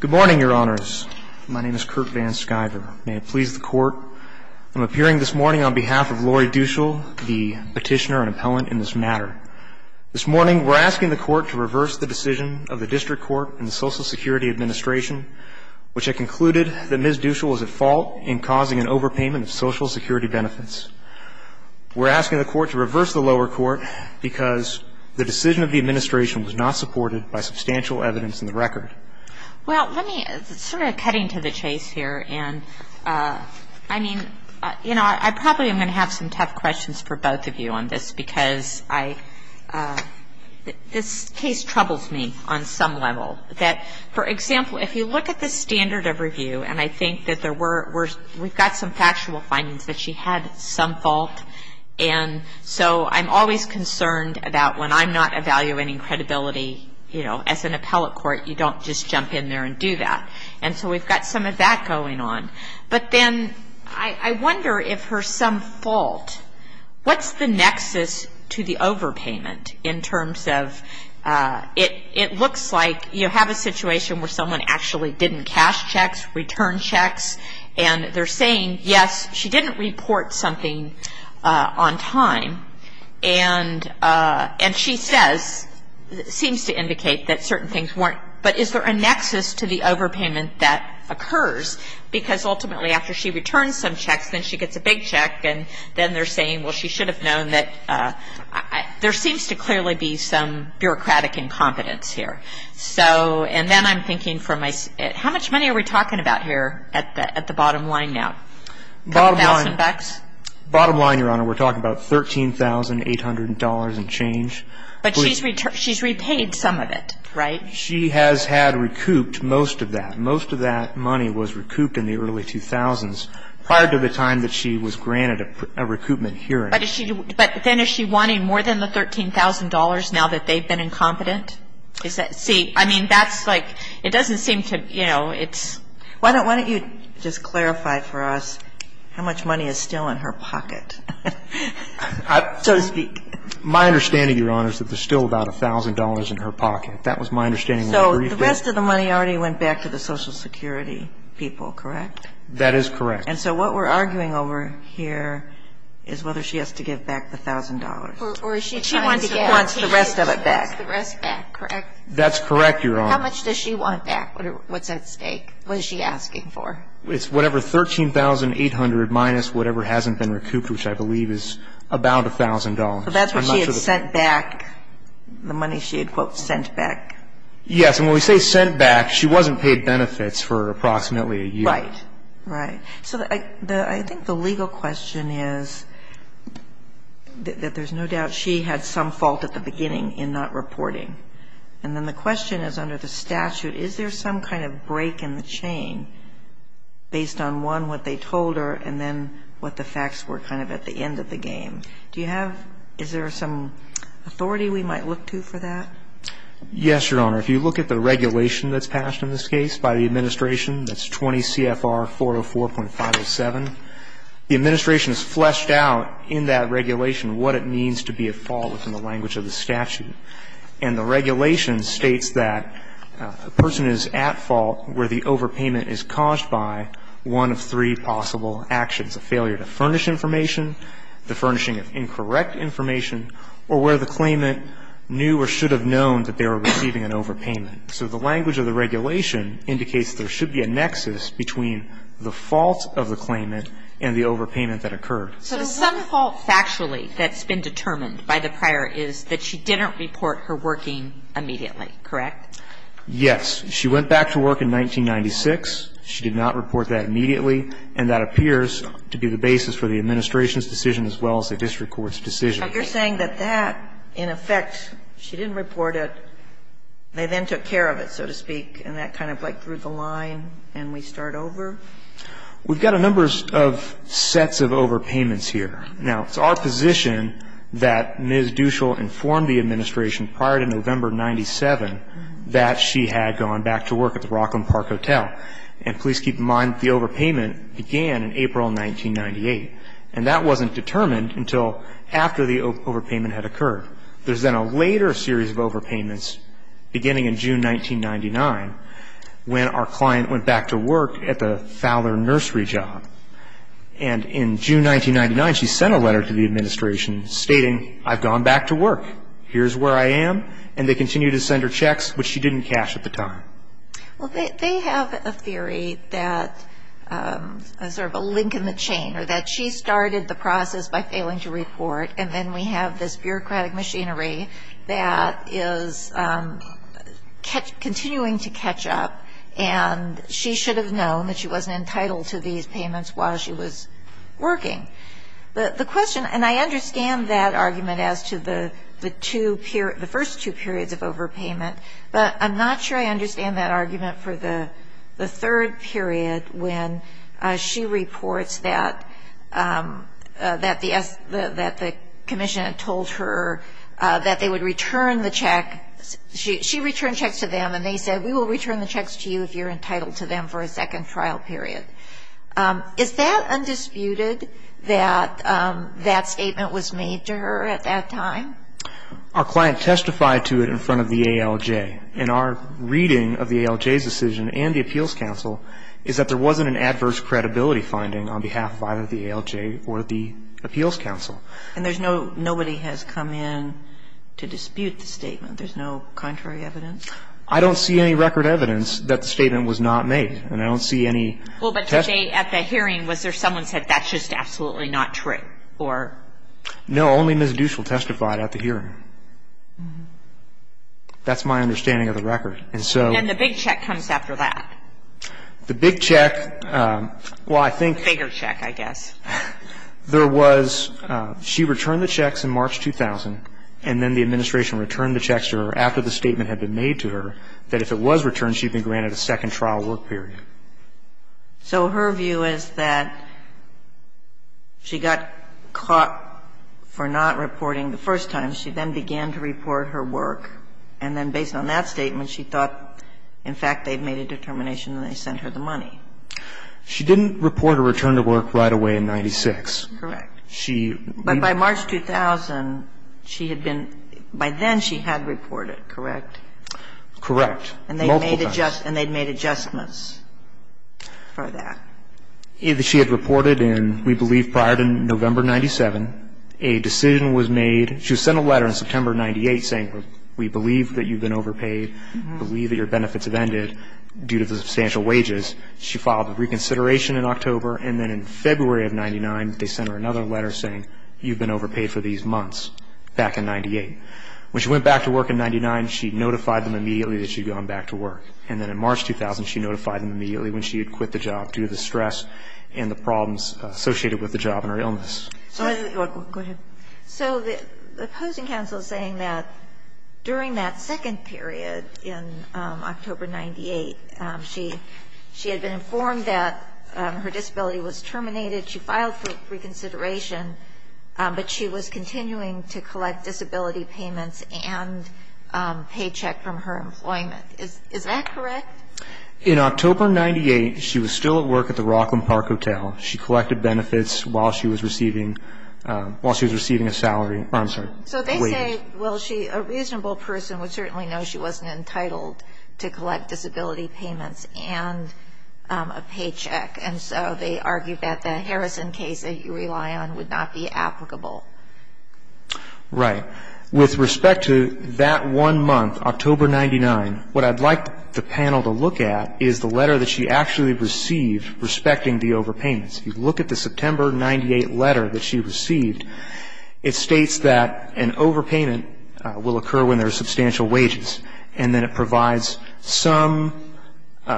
Good morning, your honors. My name is Kurt VanSkyver. May it please the court, I'm appearing this morning on behalf of Lori Deuschel, the petitioner and appellant in this matter. This morning, we're asking the court to reverse the decision of the District Court and the Social Security Administration, which had concluded that Ms. Deuschel was at fault in causing an overpayment of Social Security benefits. We're asking the court to reverse the lower court because the decision of the administration was not supported by substantial evidence in the record. Well, let me, sort of cutting to the chase here, and I mean, you know, I probably am going to have some tough questions for both of you on this because I, this case troubles me on some level. That, for example, if you look at the standard of review, and I think that there were, we've got some factual findings that she had some fault. And so I'm always concerned about when I'm not evaluating credibility, you know, as an appellate court, you don't just jump in there and do that. And so we've got some of that going on. But then I wonder if her some fault, what's the nexus to the overpayment in terms of it looks like you have a situation where someone actually didn't cash checks, return checks, and they're saying, yes, she didn't report something on time. And she says, seems to indicate that certain things weren't, but is there a nexus to the overpayment that occurs? Because ultimately after she returns some checks, then she gets a big check, and then they're saying, well, she should have known that. There seems to clearly be some bureaucratic incompetence here. So, and then I'm thinking from my, how much money are we talking about here at the bottom line now? A couple thousand bucks? Bottom line, Your Honor, we're talking about $13,800 and change. But she's repaid some of it, right? She has had recouped most of that. Most of that money was recouped in the early 2000s prior to the time that she was granted a recoupment hearing. But is she, but then is she wanting more than the $13,000 now that they've been incompetent? Is that, see, I mean, that's like, it doesn't seem to, you know, it's. Why don't you just clarify for us how much money is still in her pocket, so to speak? My understanding, Your Honor, is that there's still about $1,000 in her pocket. That was my understanding more briefly. So the rest of the money already went back to the Social Security people, correct? That is correct. And so what we're arguing over here is whether she has to give back the $1,000. Or is she trying to get. She wants the rest of it back. She wants the rest back, correct? That's correct, Your Honor. How much does she want back? What's at stake? What is she asking for? It's whatever $13,800 minus whatever hasn't been recouped, which I believe is about $1,000. So that's what she had sent back, the money she had, quote, sent back. Yes. And when we say sent back, she wasn't paid benefits for approximately a year. Right. Right. So I think the legal question is that there's no doubt she had some fault at the beginning in not reporting. And then the question is under the statute, is there some kind of break in the chain based on, one, what they told her, and then what the facts were kind of at the end of the game? Do you have – is there some authority we might look to for that? Yes, Your Honor. If you look at the regulation that's passed in this case by the administration, that's 20 CFR 404.507, the administration has fleshed out in that regulation what it means to be at fault within the language of the statute. And the regulation states that a person is at fault where the overpayment is caused by one of three possible actions, a failure to furnish information, the furnishing of incorrect information, or where the claimant knew or should have known that they were receiving an overpayment. So the language of the regulation indicates there should be a nexus between the fault of the claimant and the overpayment that occurred. So some fault factually that's been determined by the prior is that she didn't report her working immediately, correct? Yes. She went back to work in 1996. She did not report that immediately. And that appears to be the basis for the administration's decision as well as the district court's decision. So you're saying that that, in effect, she didn't report it, they then took care of it, so to speak, and that kind of like threw the line and we start over? We've got a number of sets of overpayments here. Now, it's our position that Ms. Duschel informed the administration prior to November 1997 that she had gone back to work at the Rockland Park Hotel. And please keep in mind that the overpayment began in April 1998. And that wasn't determined until after the overpayment had occurred. There's then a later series of overpayments beginning in June 1999 when our client went back to work at the Fowler Nursery job. And in June 1999, she sent a letter to the administration stating, I've gone back to work. Here's where I am. And they continued to send her checks, which she didn't cash at the time. Well, they have a theory that is sort of a link in the chain or that she started the process by failing to report. And then we have this bureaucratic machinery that is continuing to catch up. And she should have known that she wasn't entitled to these payments while she was working. The question, and I understand that argument as to the two periods, the first two periods of overpayment. But I'm not sure I understand that argument for the third period when she reports that the commission had told her that they would return the check. She returned checks to them and they said, we will return the checks to you if you're entitled to them for a second trial period. Is that undisputed that that statement was made to her at that time? Our client testified to it in front of the ALJ. And our reading of the ALJ's decision and the appeals council is that there wasn't an adverse credibility finding on behalf of either the ALJ or the appeals council. And there's no, nobody has come in to dispute the statement. There's no contrary evidence? I don't see any record evidence that the statement was not made. And I don't see any testimony. Well, but today at the hearing, was there someone said that's just absolutely not true? Or? No. Only Ms. Duschel testified at the hearing. That's my understanding of the record. And so. And the big check comes after that. The big check, well, I think. The bigger check, I guess. There was, she returned the checks in March 2000, and then the administration returned the checks to her after the statement had been made to her, that if it was returned, she'd been granted a second trial work period. So her view is that she got caught for not reporting the first time. She then began to report her work. And then based on that statement, she thought, in fact, they'd made a determination and they sent her the money. She didn't report a return to work right away in 96. Correct. She. But by March 2000, she had been, by then she had reported, correct? Correct. Multiple times. And they made adjustments for that. She had reported in, we believe, prior to November 97, a decision was made. She sent a letter in September 98 saying, we believe that you've been overpaid, we believe that your benefits have ended due to the substantial wages. She filed a reconsideration in October. And then in February of 99, they sent her another letter saying, you've been overpaid for these months, back in 98. When she went back to work in 99, she notified them immediately that she'd gone back to work. And then in March 2000, she notified them immediately when she had quit the job due to the stress and the problems associated with the job and her illness. Go ahead. So the opposing counsel is saying that during that second period in October 98, she had been informed that her disability was terminated, she filed for reconsideration, but she was continuing to collect disability payments and paycheck from her employment. Is that correct? In October 98, she was still at work at the Rockland Park Hotel. She collected benefits while she was receiving a salary. I'm sorry, a wage. So they say, well, a reasonable person would certainly know she wasn't entitled to collect disability payments and a paycheck, and so they argue that the Harrison case that you rely on would not be applicable. Right. With respect to that one month, October 99, what I'd like the panel to look at is the letter that she actually received respecting the overpayments. If you look at the September 98 letter that she received, it states that an overpayment will occur when there are substantial wages, and then it provides some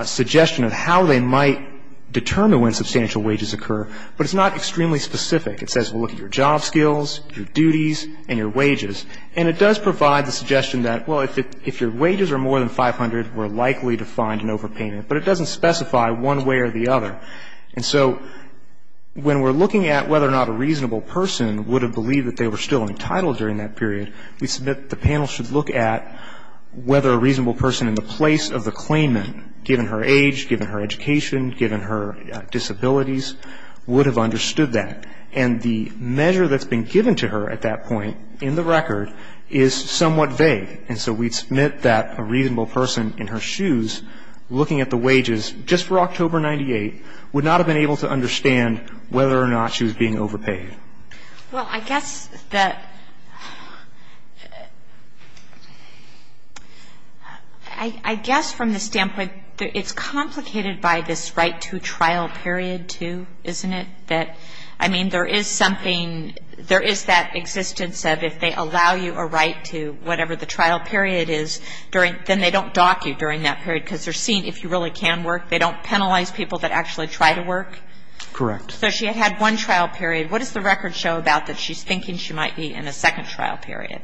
suggestion of how they might determine when substantial wages occur, but it's not extremely specific. It says, well, look at your job skills, your duties, and your wages. And it does provide the suggestion that, well, if your wages are more than 500, we're likely to find an overpayment. But it doesn't specify one way or the other. And so when we're looking at whether or not a reasonable person would have believed that they were still entitled during that period, we submit the panel should look at whether a reasonable person in the place of the claimant, given her age, given her education, given her disabilities, would have understood that. And the measure that's been given to her at that point in the record is somewhat vague, and so we submit that a reasonable person in her shoes, looking at the wages just for October 98, would not have been able to understand whether or not she was being overpaid. Kagan. Well, I guess that – I guess from the standpoint that it's complicated by this right to trial period, too, isn't it? That, I mean, there is something – there is that existence of if they allow you a right to whatever the trial period is during – then they don't dock you during that period because they're seeing if you really can work. They don't penalize people that actually try to work. Correct. So she had had one trial period. What does the record show about that she's thinking she might be in a second trial period?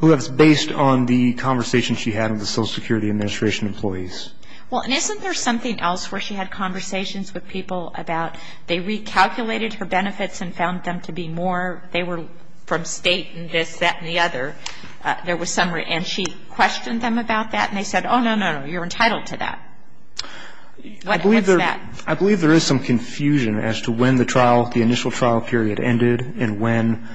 Well, that's based on the conversation she had with the Social Security Administration employees. Well, and isn't there something else where she had conversations with people about they recalculated her benefits and found them to be more – they were from state and this, that, and the other. There was some – and she questioned them about that, and they said, oh, no, no, no, you're entitled to that. What's that? I believe there is some confusion as to when the trial – the initial trial period ended and when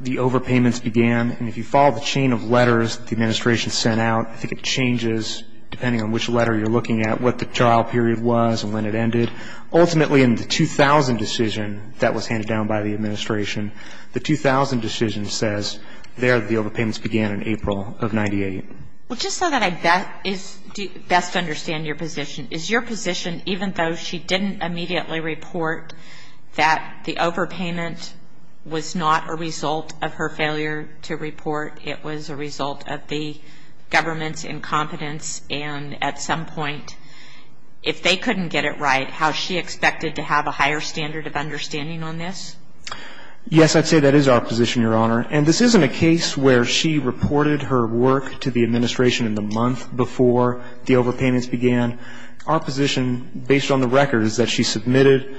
the overpayments began. And if you follow the chain of letters that the Administration sent out, I think it changes, depending on which letter you're looking at, what the trial period was and when it ended. Ultimately, in the 2000 decision that was handed down by the Administration, the 2000 decision says there the overpayments began in April of 98. Well, just so that I best understand your position, is your position even though she didn't immediately report that the overpayment was not a result of her failure to report, it was a result of the government's incompetence and at some point, if they couldn't get it right, how is she expected to have a higher standard of understanding on this? Yes, I'd say that is our position, Your Honor. And this isn't a case where she reported her work to the Administration in the month before the overpayments began. Our position, based on the record, is that she submitted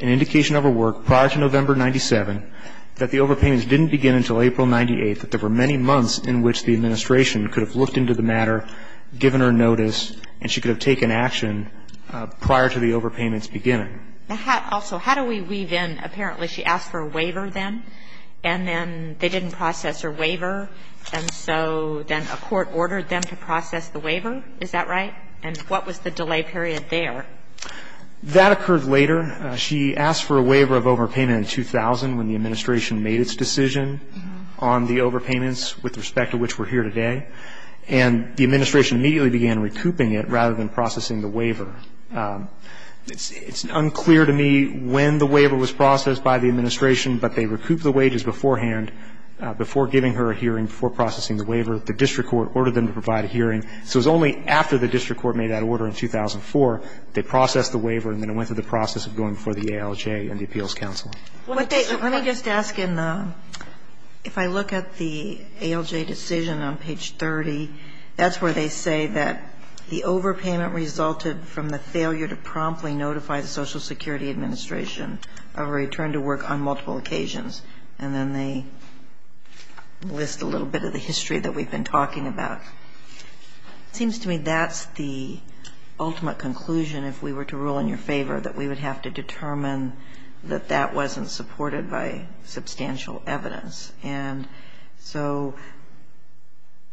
an indication of her work prior to November 97, that the overpayments didn't begin until April 98, that there were many months in which the Administration could have looked into the matter, given her notice, and she could have taken action prior to the overpayments beginning. Also, how do we weave in, apparently she asked for a waiver then, and then they didn't process her waiver, and so then a court ordered them to process the waiver? Is that right? And what was the delay period there? That occurred later. She asked for a waiver of overpayment in 2000, when the Administration made its decision on the overpayments, with respect to which we're here today. And the Administration immediately began recouping it rather than processing the waiver. It's unclear to me when the waiver was processed by the Administration, but they recouped the wages beforehand, before giving her a hearing, before processing the waiver. The district court ordered them to provide a hearing. So it was only after the district court made that order in 2004, they processed the waiver, and then it went through the process of going before the ALJ and the Appeals Council. Let me just ask, if I look at the ALJ decision on page 30, that's where they say that the overpayment resulted from the failure to promptly notify the Social Security Administration of a return to work on multiple occasions. And then they list a little bit of the history that we've been talking about. It seems to me that's the ultimate conclusion, if we were to rule in your favor, that we would have to determine that that wasn't supported by substantial evidence. And so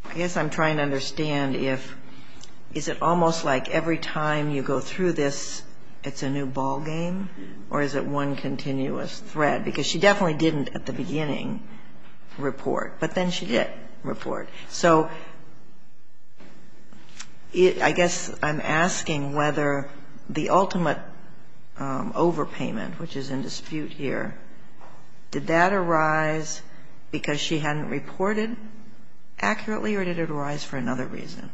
I guess I'm trying to understand if, is it almost like every time you go through this, it's a new ballgame, or is it one continuous thread? Because she definitely didn't, at the beginning, report. But then she did report. So I guess I'm asking whether the ultimate overpayment, which is in dispute here, did that arise because she hadn't reported accurately, or did it arise for another reason?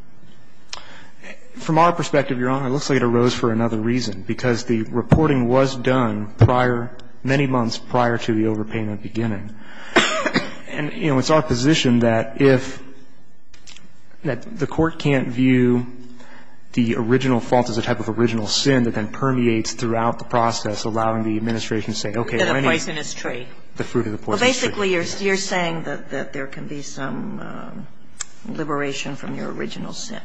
From our perspective, Your Honor, it looks like it arose for another reason, because the reporting was done prior, many months prior to the overpayment beginning. And, you know, it's our position that if the court can't view the original fault as a type of original sin that then permeates throughout the process, allowing the Administration to say, okay, well, anyway. The fruit of the poisonous tree. The fruit of the poisonous tree. Well, basically, you're saying that there can be some liberation from your original sin.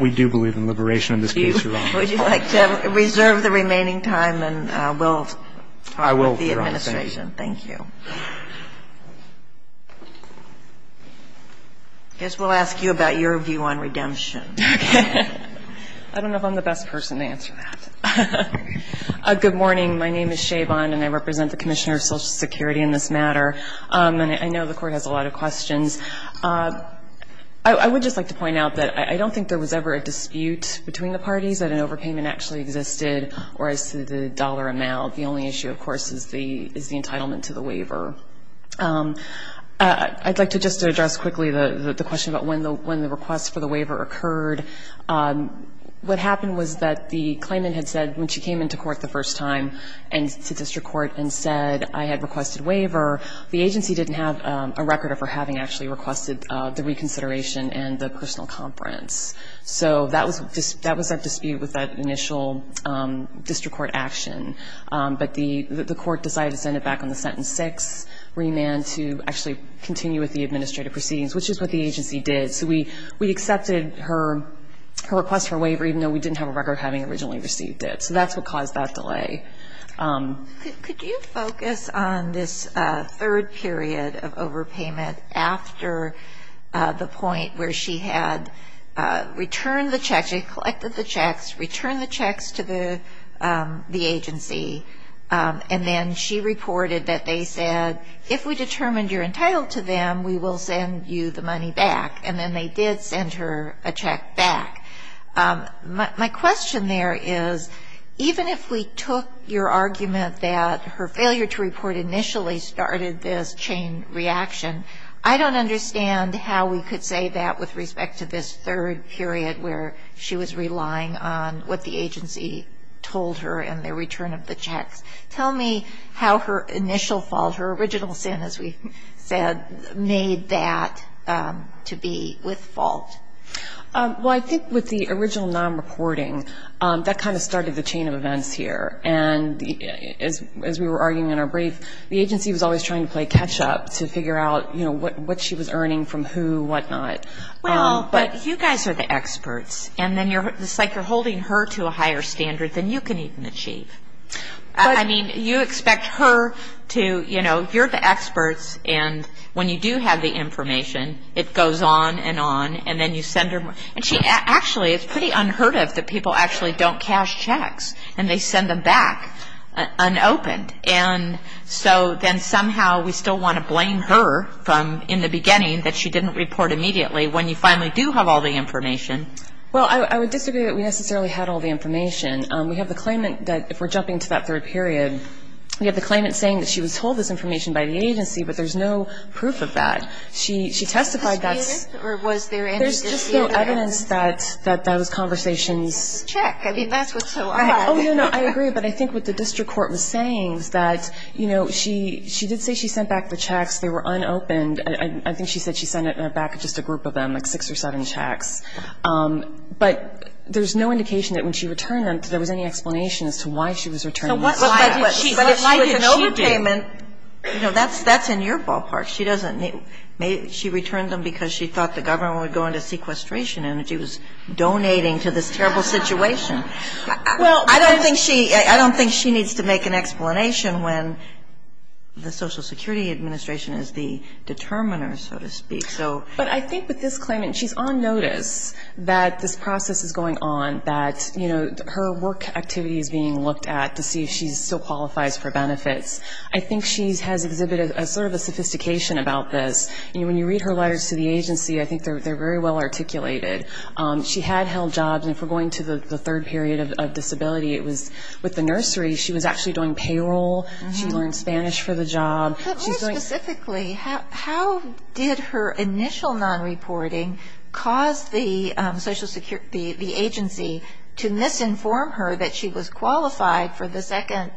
We do believe in liberation in this case, Your Honor. Would you like to reserve the remaining time and we'll talk with the Administration? I will, Your Honor. Thank you. I guess we'll ask you about your view on redemption. I don't know if I'm the best person to answer that. Good morning. My name is Shay Bond, and I represent the Commissioner of Social Security in this matter. And I know the Court has a lot of questions. I would just like to point out that I don't think there was ever a dispute between the parties that an overpayment actually existed or as to the dollar amount. The only issue, of course, is the entitlement to the waiver. I'd like to just address quickly the question about when the request for the waiver occurred. What happened was that the claimant had said when she came into court the first time and to district court and said, I had requested waiver, the agency didn't have a record of her having actually requested the reconsideration and the personal conference. So that was that dispute with that initial district court action. But the Court decided to send it back on the sentence six remand to actually continue with the administrative proceedings, which is what the agency did. So we accepted her request for waiver, even though we didn't have a record of having originally received it. So that's what caused that delay. Could you focus on this third period of overpayment after the point where she had collected the checks, returned the checks to the agency, and then she reported that they said, if we determined you're entitled to them, we will send you the money back. And then they did send her a check back. My question there is, even if we took your argument that her failure to report initially started this chain reaction, I don't understand how we could say that with respect to this third period where she was relying on what the agency told her and the return of the checks. Tell me how her initial fault, her original sin, as we said, made that to be with fault. Well, I think with the original non-reporting, that kind of started the chain of events here. And as we were arguing in our brief, the agency was always trying to play catch-up to figure out, you know, what she was earning from who, what not. Well, but you guys are the experts. And then it's like you're holding her to a higher standard than you can even achieve. I mean, you expect her to, you know, you're the experts, and when you do have the information, it goes on and on, and then you send her more. And she actually, it's pretty unheard of that people actually don't cash checks, and they send them back unopened. And so then somehow we still want to blame her from in the beginning that she didn't report immediately when you finally do have all the information. Well, I would disagree that we necessarily had all the information. We have the claimant that, if we're jumping to that third period, we have the claimant saying that she was told this information by the agency, but there's no proof of that. She testified that's the case. Well, I agree with the defense that those conversations. Check. I mean, that's what's so odd. Oh, no, no. I agree. But I think what the district court was saying is that, you know, she did say she sent back the checks. They were unopened. I think she said she sent it back to just a group of them, like six or seven checks. But there's no indication that when she returned them that there was any explanation as to why she was returning them. So why did she do it? But if she was an overpayment, you know, that's in your ballpark. She doesn't, she returned them because she thought the government would go into sequestration and that she was donating to this terrible situation. Well, I don't think she needs to make an explanation when the Social Security Administration is the determiner, so to speak. But I think with this claimant, she's on notice that this process is going on, that, you know, her work activity is being looked at to see if she still qualifies for benefits. I think she has exhibited sort of a sophistication about this. You know, when you read her letters to the agency, I think they're very well articulated. She had held jobs. And if we're going to the third period of disability, it was with the nursery. She was actually doing payroll. She learned Spanish for the job. Specifically, how did her initial non-reporting cause the agency to misinform her that she was qualified for the second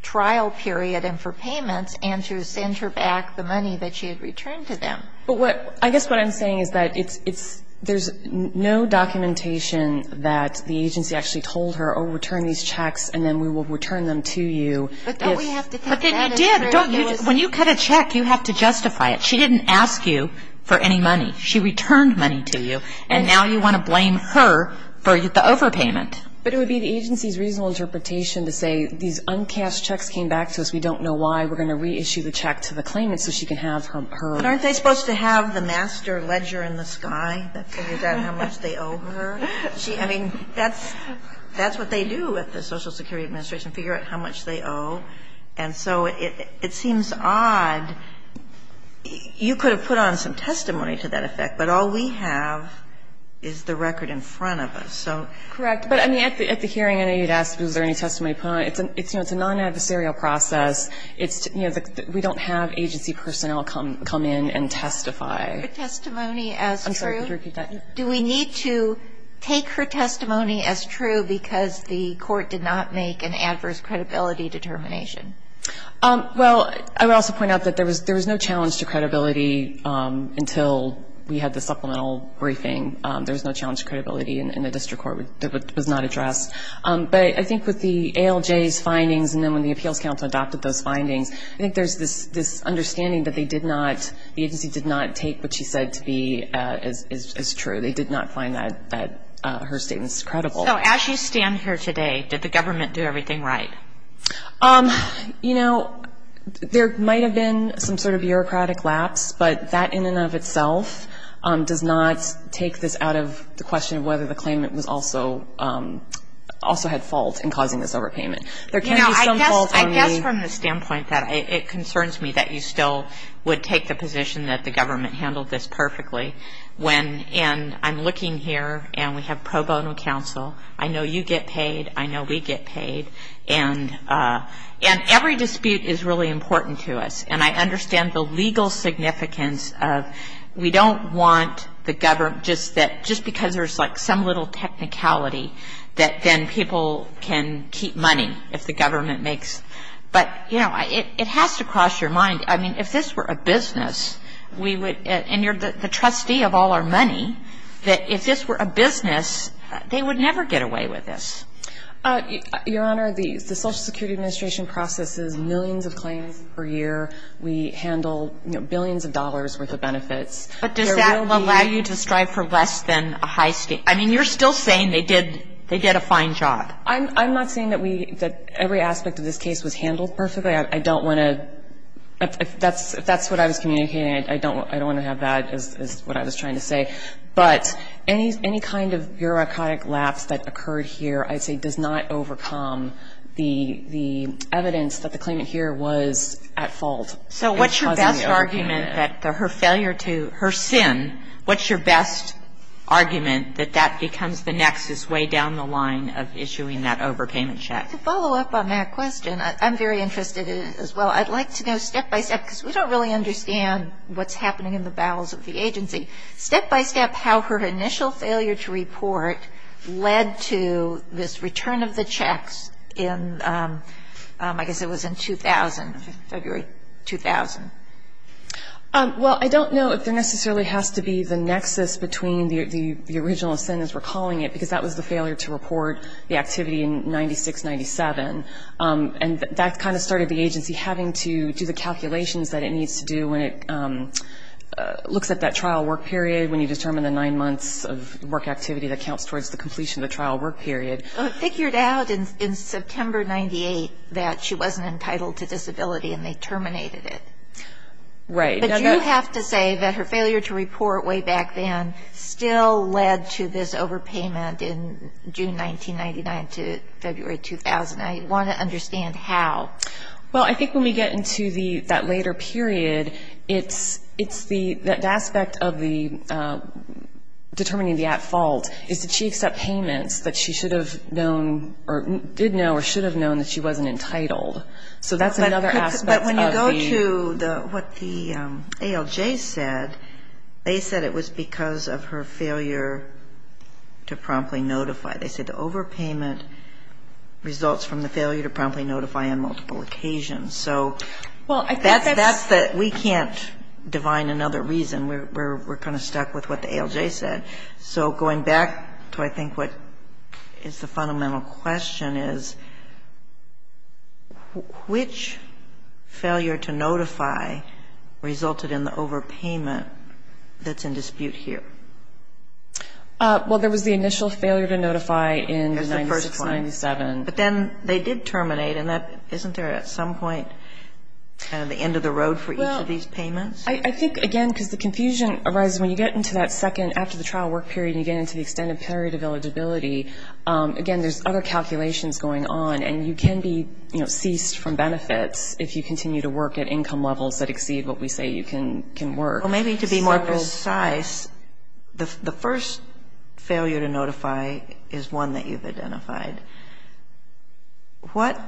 trial period and for payments and to send her back the money that she had returned to them? But what – I guess what I'm saying is that it's – there's no documentation that the agency actually told her, oh, return these checks, and then we will return them to you if – But don't we have to think that – But then you did. Don't you – when you cut a check, you have to justify it. She didn't ask you for any money. She returned money to you. And now you want to blame her for the overpayment. But it would be the agency's reasonable interpretation to say these uncashed checks came back to us. We don't know why. We're going to reissue the check to the claimant so she can have her – But aren't they supposed to have the master ledger in the sky that figures out how much they owe her? I mean, that's what they do at the Social Security Administration, figure out how much they owe. And so it seems odd. You could have put on some testimony to that effect, but all we have is the record in front of us. So – Correct. But, I mean, at the hearing, I know you'd ask if there was any testimony put on it. It's a non-adversarial process. It's – you know, we don't have agency personnel come in and testify. Her testimony as true? I'm sorry. Could you repeat that? Do we need to take her testimony as true because the court did not make an adverse credibility determination? Well, I would also point out that there was no challenge to credibility until we had the supplemental briefing. There was no challenge to credibility in the district court. It was not addressed. But I think with the ALJ's findings and then when the appeals counsel adopted those findings, I think there's this understanding that they did not – the agency did not take what she said to be as true. They did not find that – her statements credible. So as you stand here today, did the government do everything right? You know, there might have been some sort of bureaucratic lapse, but that in and of itself does not take this out of the question of whether the claimant was also – also had fault in causing this overpayment. There can be some fault on the – You know, I guess from the standpoint that it concerns me that you still would take the position that the government handled this perfectly when – and I'm looking here and we have pro bono counsel. I know you get paid. I know we get paid. And every dispute is really important to us. And I understand the legal significance of we don't want the government – just that – just because there's like some little technicality that then people can keep money if the government makes – but, you know, it has to cross your mind. I mean, if this were a business, we would – and you're the trustee of all our money that if this were a business, they would never get away with this. Your Honor, the Social Security Administration processes millions of claims per year. We handle, you know, billions of dollars' worth of benefits. There will be – But does that allow you to strive for less than a high state – I mean, you're still saying they did – they did a fine job. I'm not saying that we – that every aspect of this case was handled perfectly. I don't want to – if that's what I was communicating, I don't want to have that as what I was trying to say. But any kind of bureaucratic lapse that occurred here I'd say does not overcome the evidence that the claimant here was at fault. So what's your best argument that her failure to – her sin – what's your best argument that that becomes the nexus way down the line of issuing that overpayment check? To follow up on that question, I'm very interested as well. I'd like to know step by step, because we don't really understand what's happening in the bowels of the agency. Step by step, how her initial failure to report led to this return of the checks in – I guess it was in 2000, February 2000. Well, I don't know if there necessarily has to be the nexus between the original sentence we're calling it, because that was the failure to report the activity in 96-97. And that kind of started the agency having to do the calculations that it needs to do when it looks at that trial work period, when you determine the nine months of work activity that counts towards the completion of the trial work period. Figured out in September 98 that she wasn't entitled to disability and they terminated it. Right. But you have to say that her failure to report way back then still led to this overpayment in June 1999 to February 2000. I want to understand how. Well, I think when we get into the – that later period, it's the – that aspect of the – determining the at fault is that she accepts payments that she should have known or did know or should have known that she wasn't entitled. So that's another aspect of the – But when you go to the – what the ALJ said, they said it was because of her failure to promptly notify. They said the overpayment results from the failure to promptly notify on multiple occasions. So – Well, I think that's – We're kind of stuck with what the ALJ said. So going back to I think what is the fundamental question is, which failure to notify resulted in the overpayment that's in dispute here? Well, there was the initial failure to notify in 1996-97. But then they did terminate. And that – isn't there at some point kind of the end of the road for each of these payments? I think, again, because the confusion arises when you get into that second after the trial work period and you get into the extended period of eligibility, again, there's other calculations going on. And you can be, you know, ceased from benefits if you continue to work at income levels that exceed what we say you can work. Well, maybe to be more precise, the first failure to notify is one that you've identified. What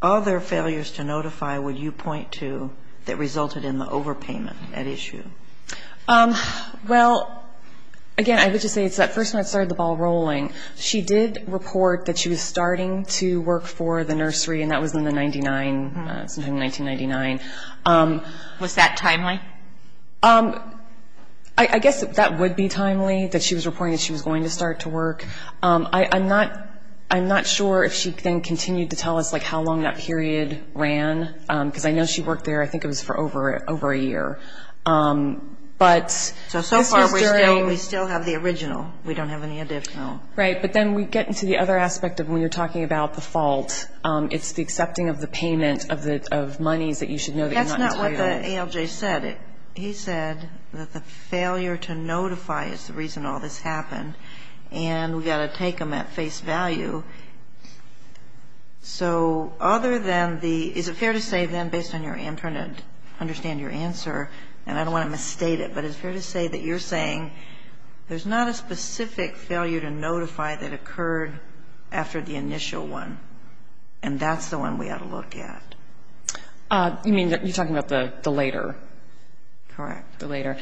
other failures to notify would you point to that resulted in the overpayment at issue? Well, again, I would just say it's that first one that started the ball rolling. She did report that she was starting to work for the nursery, and that was in the 99, sometime in 1999. Was that timely? I guess that would be timely, that she was reporting that she was going to start to work. I'm not sure if she then continued to tell us, like, how long that period ran, because I know she worked there, I think it was for over a year. So so far we still have the original. We don't have any additional. Right. But then we get into the other aspect of when you're talking about the fault, it's the accepting of the payment of monies that you should know that you're not entitled. That's not what the ALJ said. He said that the failure to notify is the reason all this happened. And we've got to take them at face value. So other than the – is it fair to say, then, based on your – I'm trying to understand your answer, and I don't want to misstate it, but it's fair to say that you're saying there's not a specific failure to notify that occurred after the initial one, and that's the one we ought to look at. You mean, you're talking about the later? Correct. The later.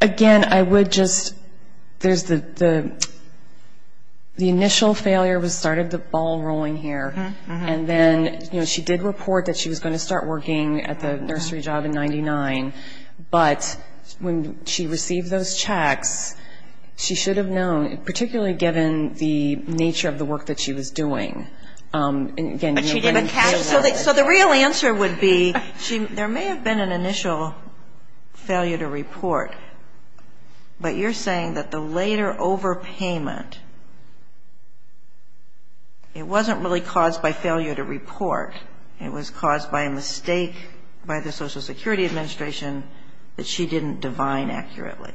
Again, I would just – there's the – the initial failure started the ball rolling here. And then, you know, she did report that she was going to start working at the nursery job in 99. But when she received those checks, she should have known, particularly given the nature of the work that she was doing. But she gave a cash – so the real answer would be there may have been an initial failure to report. But you're saying that the later overpayment, it wasn't really caused by failure to report. It was caused by a mistake by the Social Security Administration that she didn't divine accurately.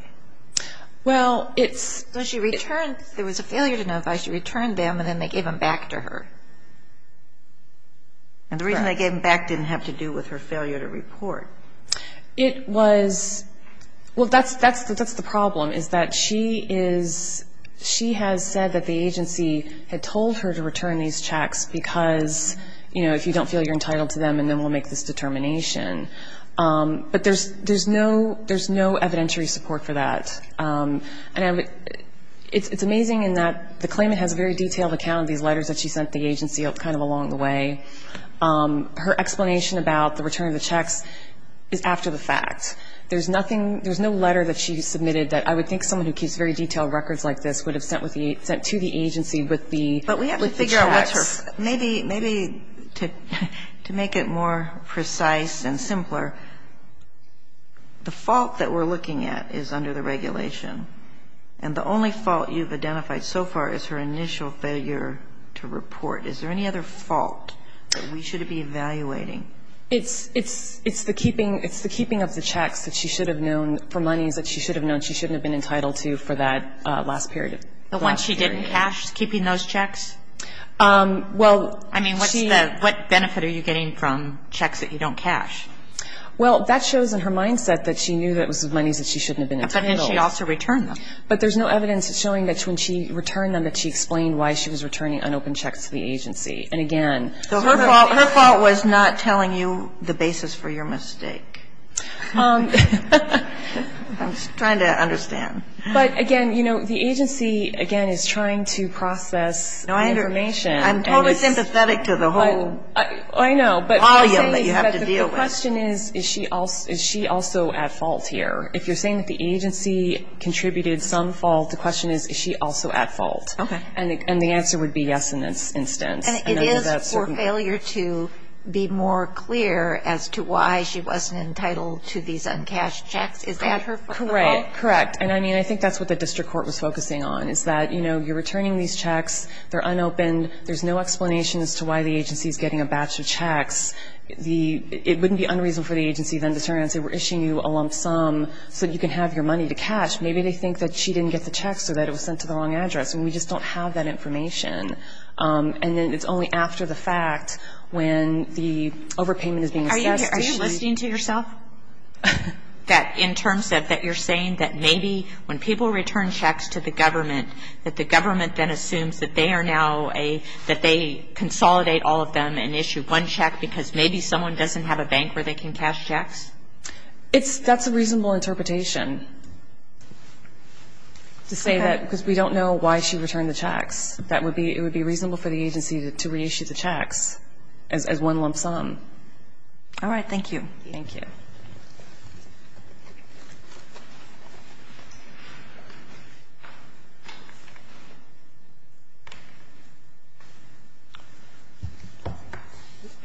Well, it's – So she returned – there was a failure to notify. She returned them, and then they gave them back to her. And the reason they gave them back didn't have to do with her failure to report. It was – well, that's the problem, is that she is – she has said that the agency had told her to return these checks because, you know, if you don't feel you're entitled to them, and then we'll make this determination. But there's no evidentiary support for that. And it's amazing in that the claimant has a very detailed account of these letters that she sent the agency kind of along the way. Her explanation about the return of the checks is after the fact. There's nothing – there's no letter that she submitted that I would think someone who keeps very detailed records like this would have sent to the agency with the checks. But we have to figure out what's her – maybe to make it more precise and simpler, the fault that we're looking at is under the regulation. And the only fault you've identified so far is her initial failure to report. Is there any other fault that we should be evaluating? It's the keeping of the checks that she should have known for monies that she should have known she shouldn't have been entitled to for that last period. The ones she didn't cash, keeping those checks? Well, she – I mean, what's the – what benefit are you getting from checks that you don't cash? Well, that shows in her mindset that she knew that it was the monies that she shouldn't have been entitled to. But then she also returned them. But there's no evidence showing that when she returned them that she explained why she was returning unopened checks to the agency. And, again – So her fault – her fault was not telling you the basis for your mistake. I'm just trying to understand. But, again, you know, the agency, again, is trying to process information. I'm totally sympathetic to the whole volume that you have to deal with. I know, but the question is, is she also at fault here? If you're saying that the agency contributed some fault, the question is, is she also at fault? Okay. And the answer would be yes in this instance. It is for failure to be more clear as to why she wasn't entitled to these uncashed checks. Is that her fault? Correct. Correct. And, I mean, I think that's what the district court was focusing on, is that, you know, you're returning these checks. They're unopened. There's no explanation as to why the agency is getting a batch of checks. The – it wouldn't be unreasonable for the agency then to turn around and say, we're issuing you a lump sum so that you can have your money to cash. Maybe they think that she didn't get the checks or that it was sent to the wrong address. And we just don't have that information. And then it's only after the fact when the overpayment is being assessed. Are you listening to yourself? That in terms of that you're saying that maybe when people return checks to the government, that the government then assumes that they are now a – that they consolidate all of them and issue one check because maybe someone doesn't have a That's a reasonable interpretation to say that because we don't know why she returned the checks. That would be – it would be reasonable for the agency to reissue the checks as one lump sum. All right. Thank you. Thank you.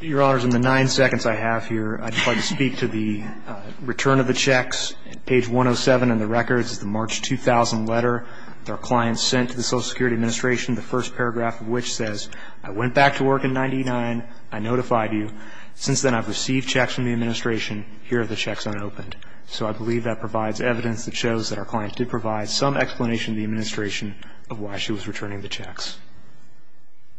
Your Honors, in the nine seconds I have here, I'd like to speak to the return of the checks. Page 107 in the records is the March 2000 letter that our client sent to the Social Security Administration, the first paragraph of which says, I went back to work in 1999. I notified you. Since then I've received checks from the Administration. Here are the checks unopened. So I believe that provides evidence that shows that our client did provide some explanation to the Administration of why she was returning the checks.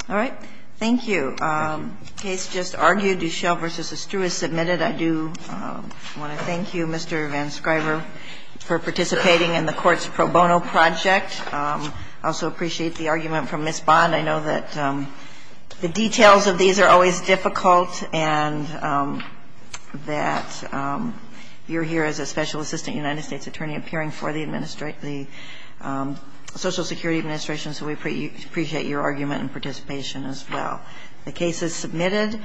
All right. Thank you. The case just argued, Duchelle v. Estruz, submitted. I do want to thank you, Mr. VanScriver, for participating in the court's pro bono project. I also appreciate the argument from Ms. Bond. I know that the details of these are always difficult and that you're here as a special assistant United States attorney appearing for the Social Security Administration, so we appreciate your argument and participation as well. The case is submitted.